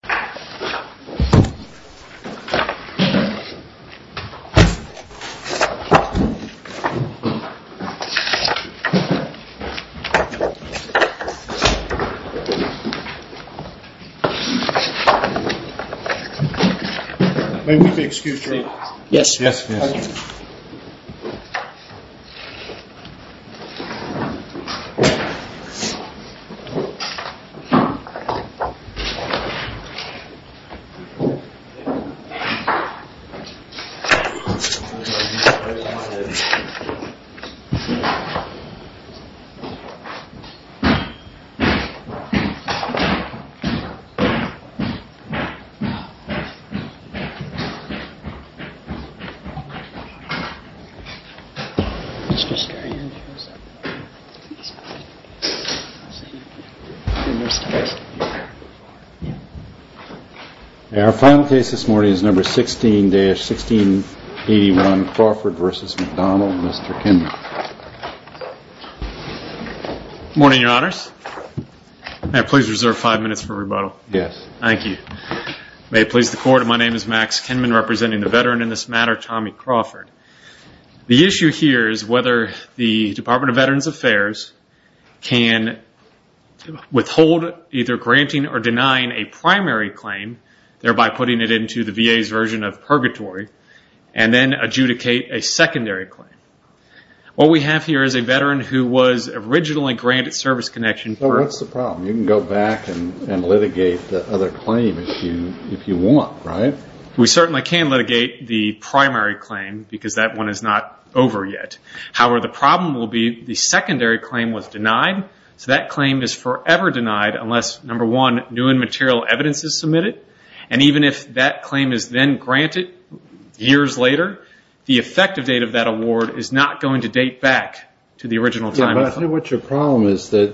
and move through moved to three and three the haha uh... uh... and i think this morning's number sixteen days sixteen he won't go for a person one of the others that was there five minutes for about yes they please the court my name is max can representing the veteran in this matter tommy crawford the issue here is whether the department of veterans affairs can to withhold either granting or denying a primary claim thereby putting it into the days version of purgatory and then adjudicate a secondary what we have here is a veteran who was originally granted service connection for us the problem you can go back and and litigate the other claim if you want we certainly can't let it get the primary claim because that one is not over yet however the problem will be the secondary claim was denied so that claim is forever denied unless number one new and material evidence is submitted and even if that claim is then granted years later the effective date of that award is not going to date back to the original time but i think what your problem is that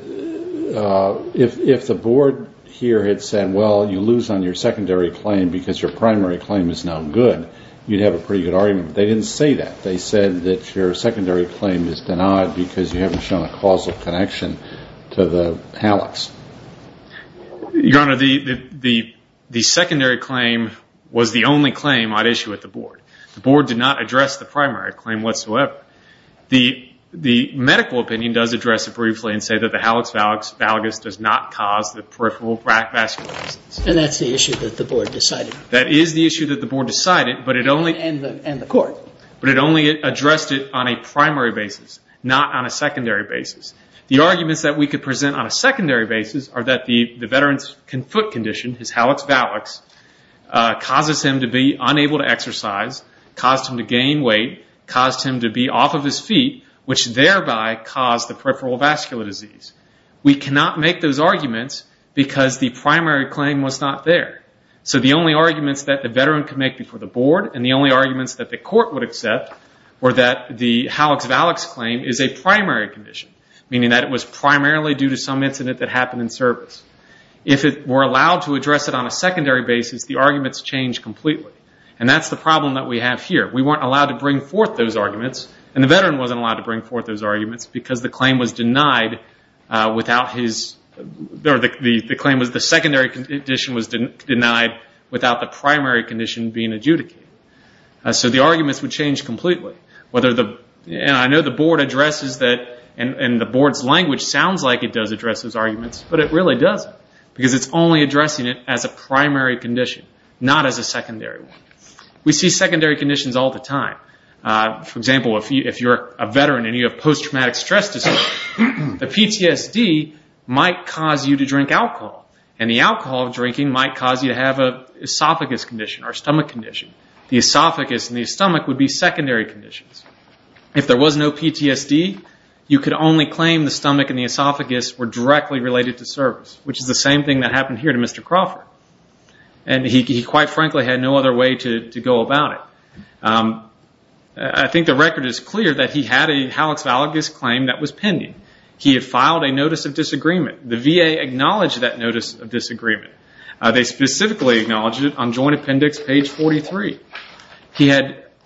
if if the board here had said well you lose on your secondary claim because your primary claim is no good you have a pretty good argument they didn't say that they said that your causal connection to the house your honor the the the secondary claim was the only claim i'd issue at the board board did not address the primary claim whatsoever the medical opinion does address a briefly and say that the house out douglas does not cause the peripheral back that's and that's the issue that the board decided that is the issue that the board decided but it only and and the court but it only it addressed it on a primary basis not on a secondary basis the arguments that we could present on a secondary basis are that the the veterans conflict condition is how it's ballots uh... causes him to be unable to exercise costume to gain weight cost him to be off of his feet which thereby caused the peripheral vascular disease we cannot make those arguments because the primary claim was not there so the only arguments that the veteran committee for the board and the only arguments that the court would accept or that the house ballots claim is a primary condition meaning that it was primarily due to some incident that happened in service if it were allowed to address it on a secondary basis the arguments change completely and that's the problem that we have here we were allowed to bring forth those arguments and that it was a lot of bring forth those arguments because the claim was denied uh... without his there that the the claim is the secondary condition was didn't denied without the primary condition being adjudicated so the arguments would change completely whether the and i know the board addresses that and and the board's language sounds like it does address those arguments but it really does because it's only addressing it as a primary condition not as a secondary we see secondary conditions all the time uh... for example if you if you're a veteran and you have post-traumatic stress disorder the PTSD might cause you to drink alcohol and the alcohol drinking might cause you have a esophagus condition or stomach condition the esophagus and the stomach would be secondary conditions if there was no PTSD you could only claim the stomach and the esophagus were directly related to service which is the same thing that happened here to Mr. Crawford and he he quite frankly had no other way to to go about it uh... i think the record is clear that he had a hallux valgus claim that was pending he had filed a notice of disagreement the VA acknowledged that notice of disagreement uh... they specifically acknowledged it on joint appendix page forty three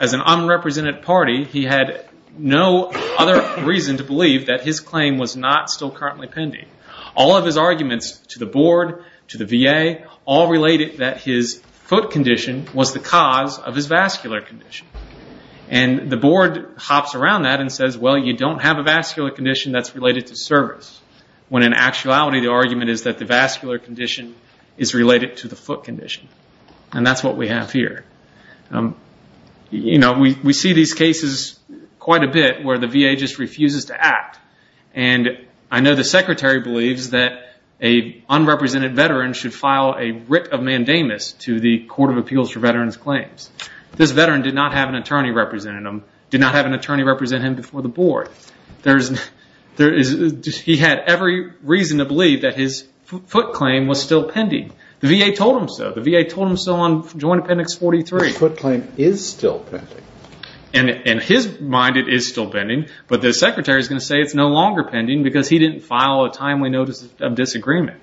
as an unrepresented party he had no other reason to believe that his claim was not still currently pending all of his arguments to the board to the VA all related that his foot condition was the cause of his vascular condition and the board hops around that and says well you don't have a vascular condition that's related to service when in actuality the argument is that the vascular condition is related to the foot condition and that's what we have here you know we we see these cases quite a bit where the VA just refuses to act and I know the secretary believes that a unrepresented veteran should file a writ of mandamus to the court of appeals for veterans claims this veteran did not have an attorney represent him did not have an attorney represent him before the board there's there is he had every reason to believe that his foot claim was still pending the VA told him so the VA told him so on joint appendix forty three his foot claim is still pending and in his mind it is still pending but the secretary is going to say it's no longer pending because he didn't file a timely notice of disagreement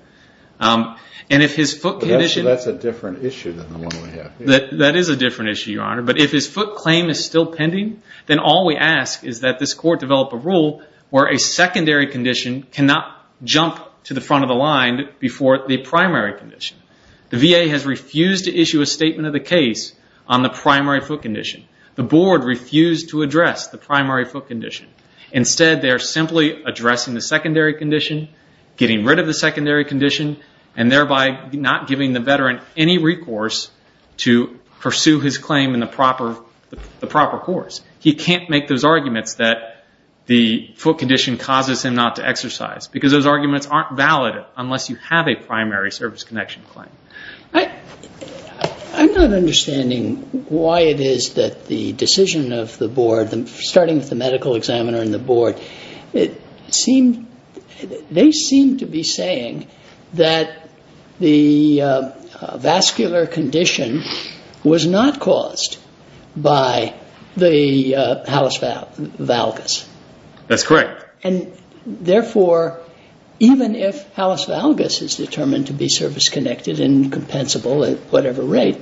and if his foot condition that's a different issue than the one we have that that is a different issue your honor but if his foot claim is still pending then all we ask is that this court develop a rule where a secondary condition cannot jump to the front of the line before the primary condition the VA has refused to issue a statement of the case on the primary foot condition the board refused to address the primary foot condition instead they're simply addressing the secondary condition getting rid of the secondary condition and thereby not giving the veteran any recourse to pursue his claim in the proper the proper course he can't make those arguments that the foot condition causes him not to exercise because those arguments aren't valid unless you have a primary service connection I'm not understanding why it is that the decision of the board starting with the medical examiner and the board they seem to be saying that the vascular condition was not caused by the hallux valgus that's correct and therefore even if hallux valgus is determined to be service-connected and compensable at whatever rate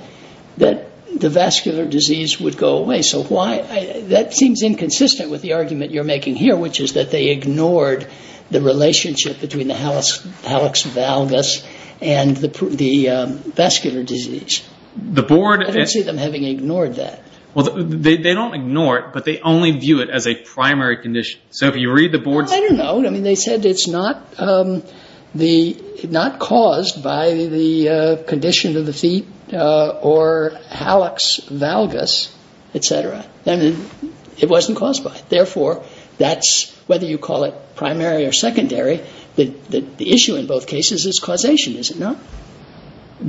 the vascular disease would go away so why that seems inconsistent with the argument you're making here which is that they ignored the relationship between the hallux valgus and the vascular disease I don't see them having ignored that well they don't ignore it but they only view it as a primary condition so if you read the board's... I don't know they said it's not not caused by the condition of the feet or hallux valgus etc it wasn't caused by it therefore that's whether you call it primary or secondary the issue in both cases is causation, is it not?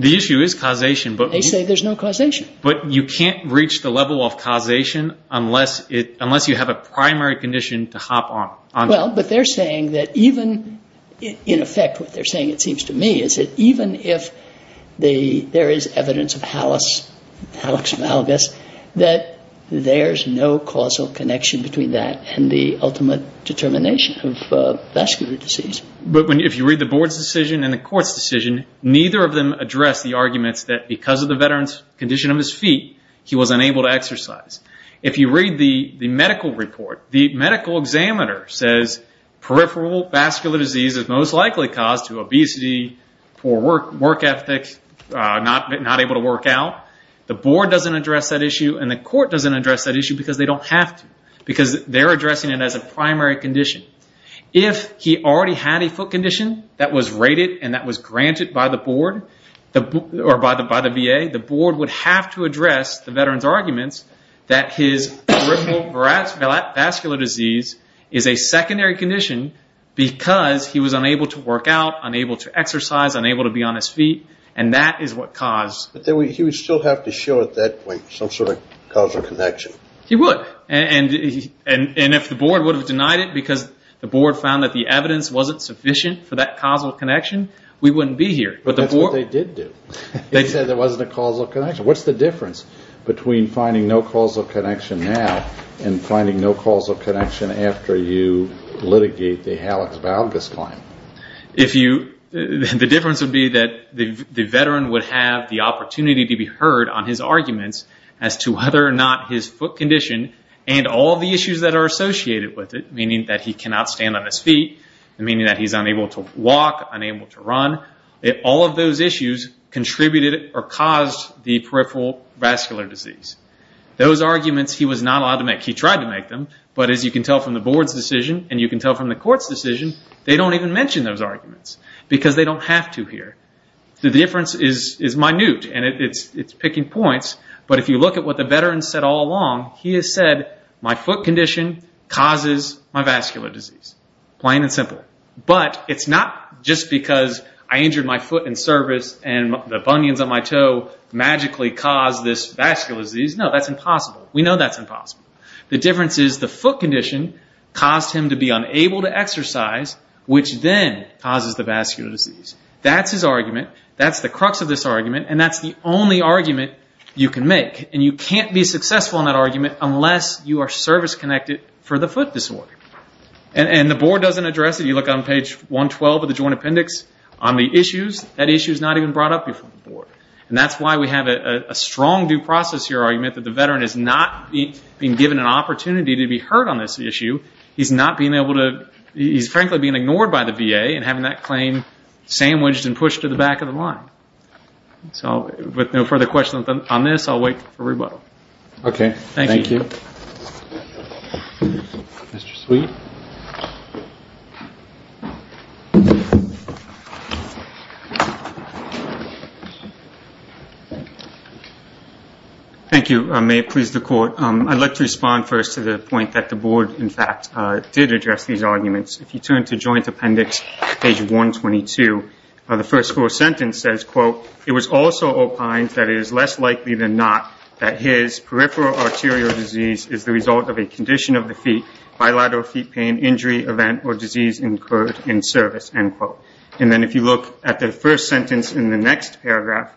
the issue is causation but they say there's no causation but you can't reach the level of causation unless you have a primary condition to hop on well but they're saying that even in effect what they're saying it seems to me is that even if there is evidence of hallux valgus that there's no causal connection between that and the ultimate determination of vascular disease but if you read the board's decision and the court's decision neither of them address the arguments that because of the veteran's condition of his feet he was unable to exercise if you read the medical report the medical examiner says peripheral vascular disease is most likely caused to obesity poor work ethics not able to work out the board doesn't address that issue and the court doesn't address that issue because they don't have to because they're addressing it as a primary condition if he already had a foot condition that was rated and that was granted by the board or by the VA, the board would have to address the veteran's arguments that his peripheral vascular disease is a secondary condition because he was unable to work out, unable to exercise, unable to be on his feet and that is what caused... But he would still have to show at that point some sort of causal connection he would and if the board would have denied it because the board found that the evidence wasn't sufficient for that causal connection we wouldn't be here. But that's what they did do they said there wasn't a causal connection. What's the difference between finding no causal connection now and finding no causal connection after you litigate the Halix-Valgus claim? if you... the difference would be that the veteran would have the opportunity to be heard on his arguments as to whether or not his foot condition and all the issues that are associated with it, meaning that he cannot stand on his feet meaning that he's unable to walk, unable to run all of those issues contributed or caused the peripheral vascular disease those arguments he was not allowed to make. He tried to make them but as you can tell from the board's decision and you can tell from the court's decision they don't even mention those arguments because they don't have to here the difference is minute and it's picking points but if you look at what the veteran said all along, he has said my foot condition causes my vascular disease plain and simple but it's not just because I injured my foot in service and the bunions on my toe magically caused this vascular disease. No, that's impossible. We know that's impossible the difference is the foot condition caused him to be unable to exercise which then causes the vascular disease that's his argument that's the crux of this argument and that's the only argument you can make and you can't be successful in that argument unless you are service-connected for the foot disorder and the board doesn't address it. You look on page 112 of the Joint Appendix on the issues, that issue is not even brought up before the board and that's why we have a strong due process here argument that the veteran is not being given an opportunity to be heard on this issue he's not being able to he's frankly being ignored by the VA and having that claim sandwiched and pushed to the back of the line so with no further questions on this I'll wait for rebuttal okay, thank you Mr. Sweet Thank you, may it please the court, I'd like to respond first to the point that the board in fact did address these arguments. If you turn to Joint Appendix page 122 the first full sentence says quote it was also opined that it is less likely than not that his peripheral arterial disease is the result of a condition of the feet bilateral feet pain injury event or disease incurred in service end quote and then if you look at the first sentence in the next paragraph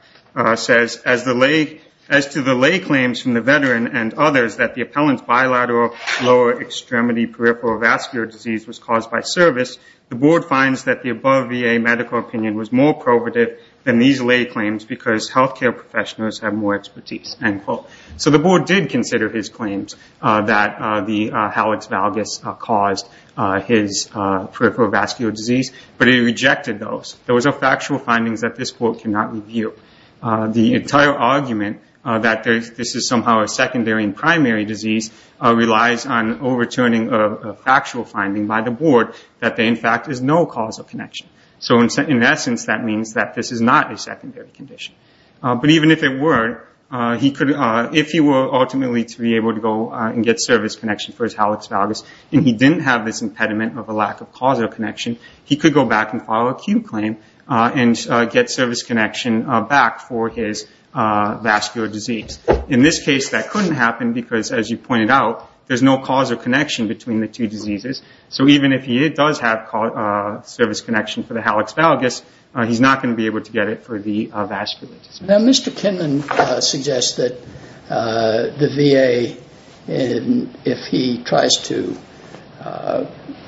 says as the lay as to the lay claims from the veteran and others that the appellant's bilateral lower extremity peripheral vascular disease was caused by service the board finds that the above VA medical opinion was more probative than these lay claims because health care professionals have more expertise end quote so the board did consider his claims uh... that uh... the hallux valgus caused uh... his peripheral vascular disease but he rejected those. Those are factual findings that this court cannot review uh... the entire argument uh... that this is somehow a secondary and primary disease relies on overturning a factual finding by the board that there in fact is no causal connection so in essence that means that this is not a secondary condition uh... but even if it were uh... he could uh... if he were ultimately to be able to go and get service connection for his hallux valgus and he didn't have this impediment of a lack of causal connection he could go back and file a Q claim uh... and uh... get service connection back for his uh... vascular disease. In this case that couldn't happen because as you pointed out there's no causal connection between the two diseases so even if he does have uh... service connection for the hallux valgus uh... he's not going to be able to get it for the uh... vascular disease. Now Mr. Kinman uh... suggests that uh... the VA uh... if he tries to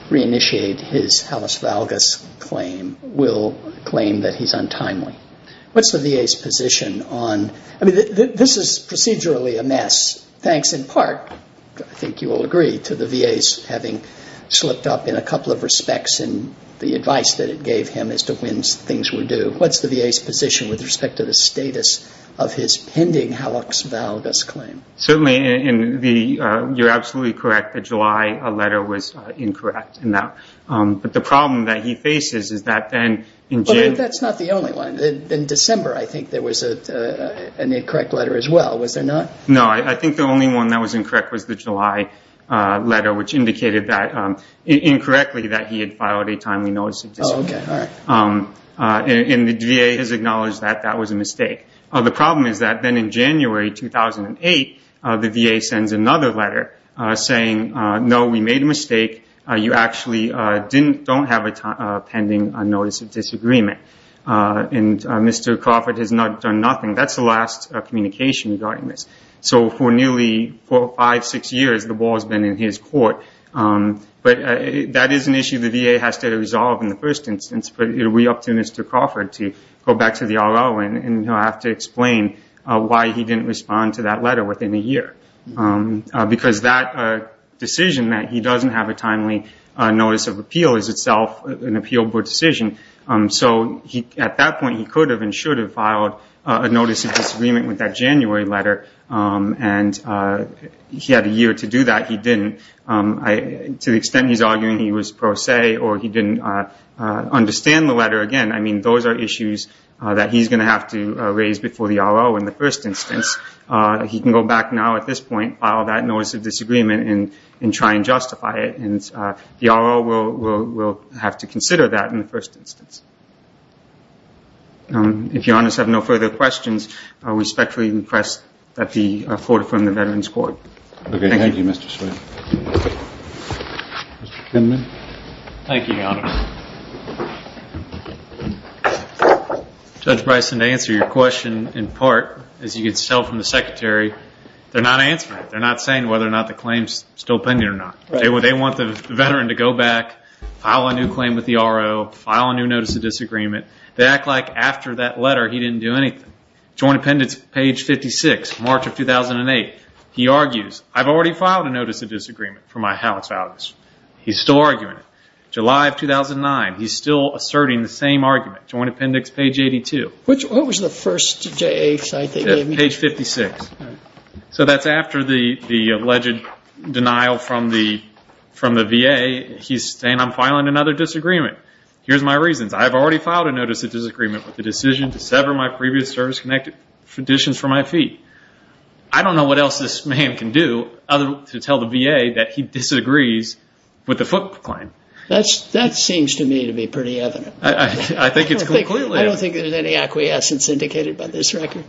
reinitiate his hallux valgus claim will claim that he's untimely what's the VA's position on I mean this is procedurally a mess thanks in part I think you'll agree to the VA's having slipped up in a couple of respects in the advice that it gave him as to when things were due. What's the VA's position with respect to the status of his pending hallux valgus claim? Certainly in the uh... you're absolutely correct that July a letter was incorrect in that uh... but the problem that he faces is that then in June. But that's not the only one. In December I think there was a uh... an incorrect letter as well was there not? No, I think the only one that was incorrect was the July uh... letter which indicated that incorrectly that he had filed a timely notice of disagreement. And the VA has acknowledged that that was a mistake. The problem is that then in January 2008 the VA sends another letter saying no we made a mistake you actually don't have a pending notice of disagreement uh... and uh... Mr. Crawford has not done nothing. That's the last communication regarding this. So for nearly four, five, six years the ball's been in his court. But that is an issue the VA has to resolve in the first instance. But it will be up to Mr. Crawford to go back to the R.O. and he'll have to explain why he didn't respond to that letter within a year. Because that decision that he doesn't have a timely notice of appeal is itself an appealable decision. So at that point he could have and should have filed a notice of disagreement with that January letter and uh... he had a year to do that, he didn't. To the extent he's arguing he was pro se or he didn't understand the letter again, I mean those are issues that he's going to have to raise before the R.O. in the first instance. He can go back now at this point, file that notice of disagreement and try and justify it. The R.O. will have to consider that in the first instance. If your Honors have no further questions, I respectfully request that the Court affirm the Veterans Court. Thank you, Mr. Swayne. Thank you, Your Honor. Judge Bryson, to answer your question in part, as you can tell from the Secretary, they're not answering it. They're not saying whether or not the claim's still pending or not. They want the Veteran to go back, file a new claim with the R.O., file a new notice of disagreement. They act like after that letter he didn't do anything. Joint Appendix, page 56, March of 2008. He argues, I've already filed a notice of disagreement for my house values. He's still arguing it. July of 2009, he's still asserting the same argument. Joint Appendix, page 82. What was the first J.A. site they gave you? Page 56. So that's after the alleged denial from the V.A. He's saying, I'm filing another disagreement. Here's my reasons. I've already filed a notice of disagreement with the decision to sever my previous service-connected conditions for my feet. I don't know what else this man can do other than to tell the V.A. that he disagrees with the foot claim. That seems to me to be pretty evident. I think it's completely evident. I don't think there's any acquiescence indicated by this record.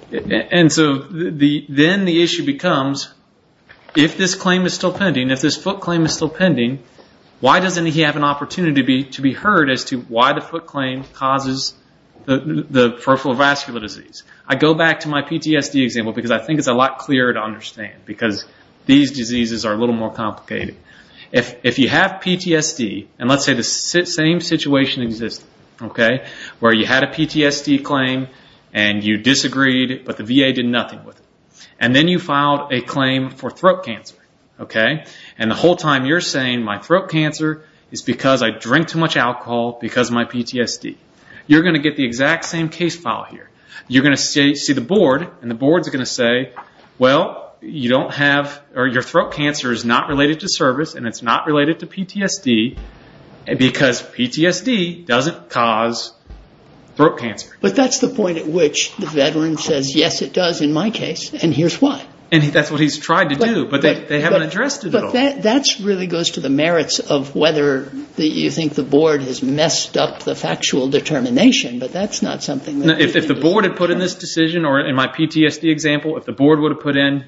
And so then the issue becomes, if this claim is still pending, if this foot claim is still pending, why doesn't he have an opportunity to be heard as to why the foot claim causes the peripheral vascular disease? I go back to my PTSD example because I think it's a lot clearer to understand because these diseases are a little more complicated. If you have PTSD, and let's say the same situation exists, where you had a PTSD claim and you disagreed, but the V.A. did nothing with it. And then you filed a claim for throat cancer. And the whole time you're saying, my throat cancer is because I drink too much alcohol because of my PTSD. You're going to get the exact same case file here. You're going to see the board, and the board's going to say, well, your throat cancer is not related to service and it's not related to PTSD because PTSD doesn't cause throat cancer. But that's the point at which the veteran says, yes, it does in my case. And here's why. And that's what he's tried to do, but they haven't addressed it at all. But that really goes to the merits of whether you think the board has messed up the factual determination, but that's not something that... If the board had put in this decision, or in my PTSD example, if the board would have put in,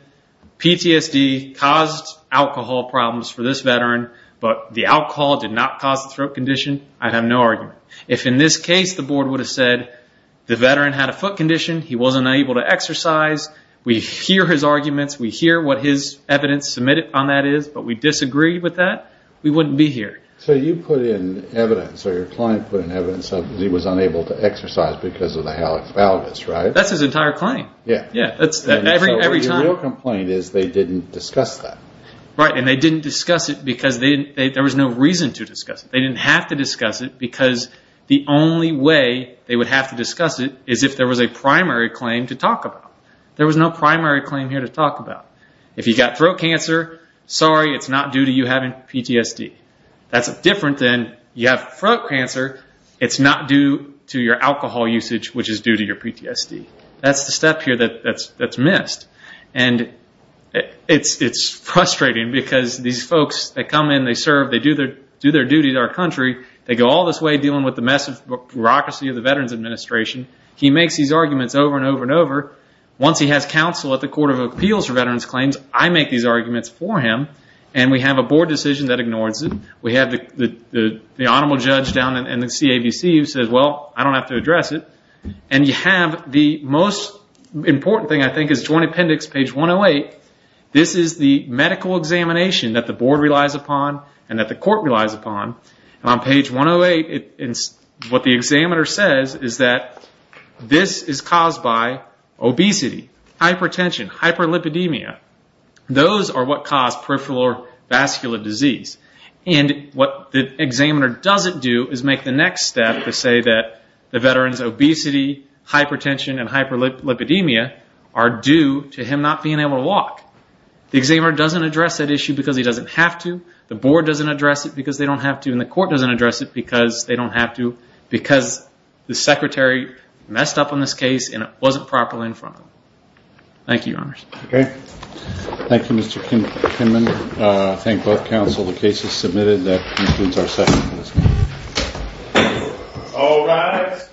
PTSD caused alcohol problems for this veteran, but the alcohol did not cause the throat condition, I'd have no argument. If in this case the board would have said, the veteran had a foot condition, he wasn't able to exercise, we hear his arguments, we hear what his evidence submitted on that is, but we disagree with that, we wouldn't be here. So you put in evidence, or your client put in evidence that he was unable to exercise because of the hallux valgus, right? That's his entire claim. Yeah. Every time. So your real complaint is they didn't discuss that. Right, and they didn't discuss it because there was no reason to discuss it. They didn't have to discuss it because the only way they would have to discuss it is if there was a primary claim to talk about. There was no primary claim here to talk about. If you got throat cancer, sorry, it's not due to you having PTSD. That's different than you have throat cancer, it's not due to your alcohol usage, which is due to your PTSD. That's the step here that's missed. And it's frustrating because these folks, they come in, they serve, they do their duty to our country, they go all this way dealing with the mess of bureaucracy of the Veterans Administration, he makes these arguments over and over and over. Once he has counsel at the Court of Appeals for Veterans Claims, I make these arguments for him, and we have a board decision that ignores it. We have the Honorable Judge down in the CAVC who says, well, I don't have to address it. And you have the most important thing, I think, is Joint Appendix, page 108. This is the medical examination that the board relies upon and that the court relies upon. And on page 108, what the examiner says is that this is caused by obesity, hypertension, hyperlipidemia. Those are what cause peripheral vascular disease. And what the examiner doesn't do is make the next step to say that the veteran's obesity, hypertension, and hyperlipidemia are due to him not being able to walk. The examiner doesn't address that issue because he doesn't have to, the board doesn't address it because they don't have to, and the court doesn't address it because they don't have to, because the secretary messed up on this case and it wasn't properly in front of him. Thank you, Your Honors. Okay. Thank you, Mr. Kinman. Thank both counsel. The case is submitted. That concludes our session for this morning. All rise.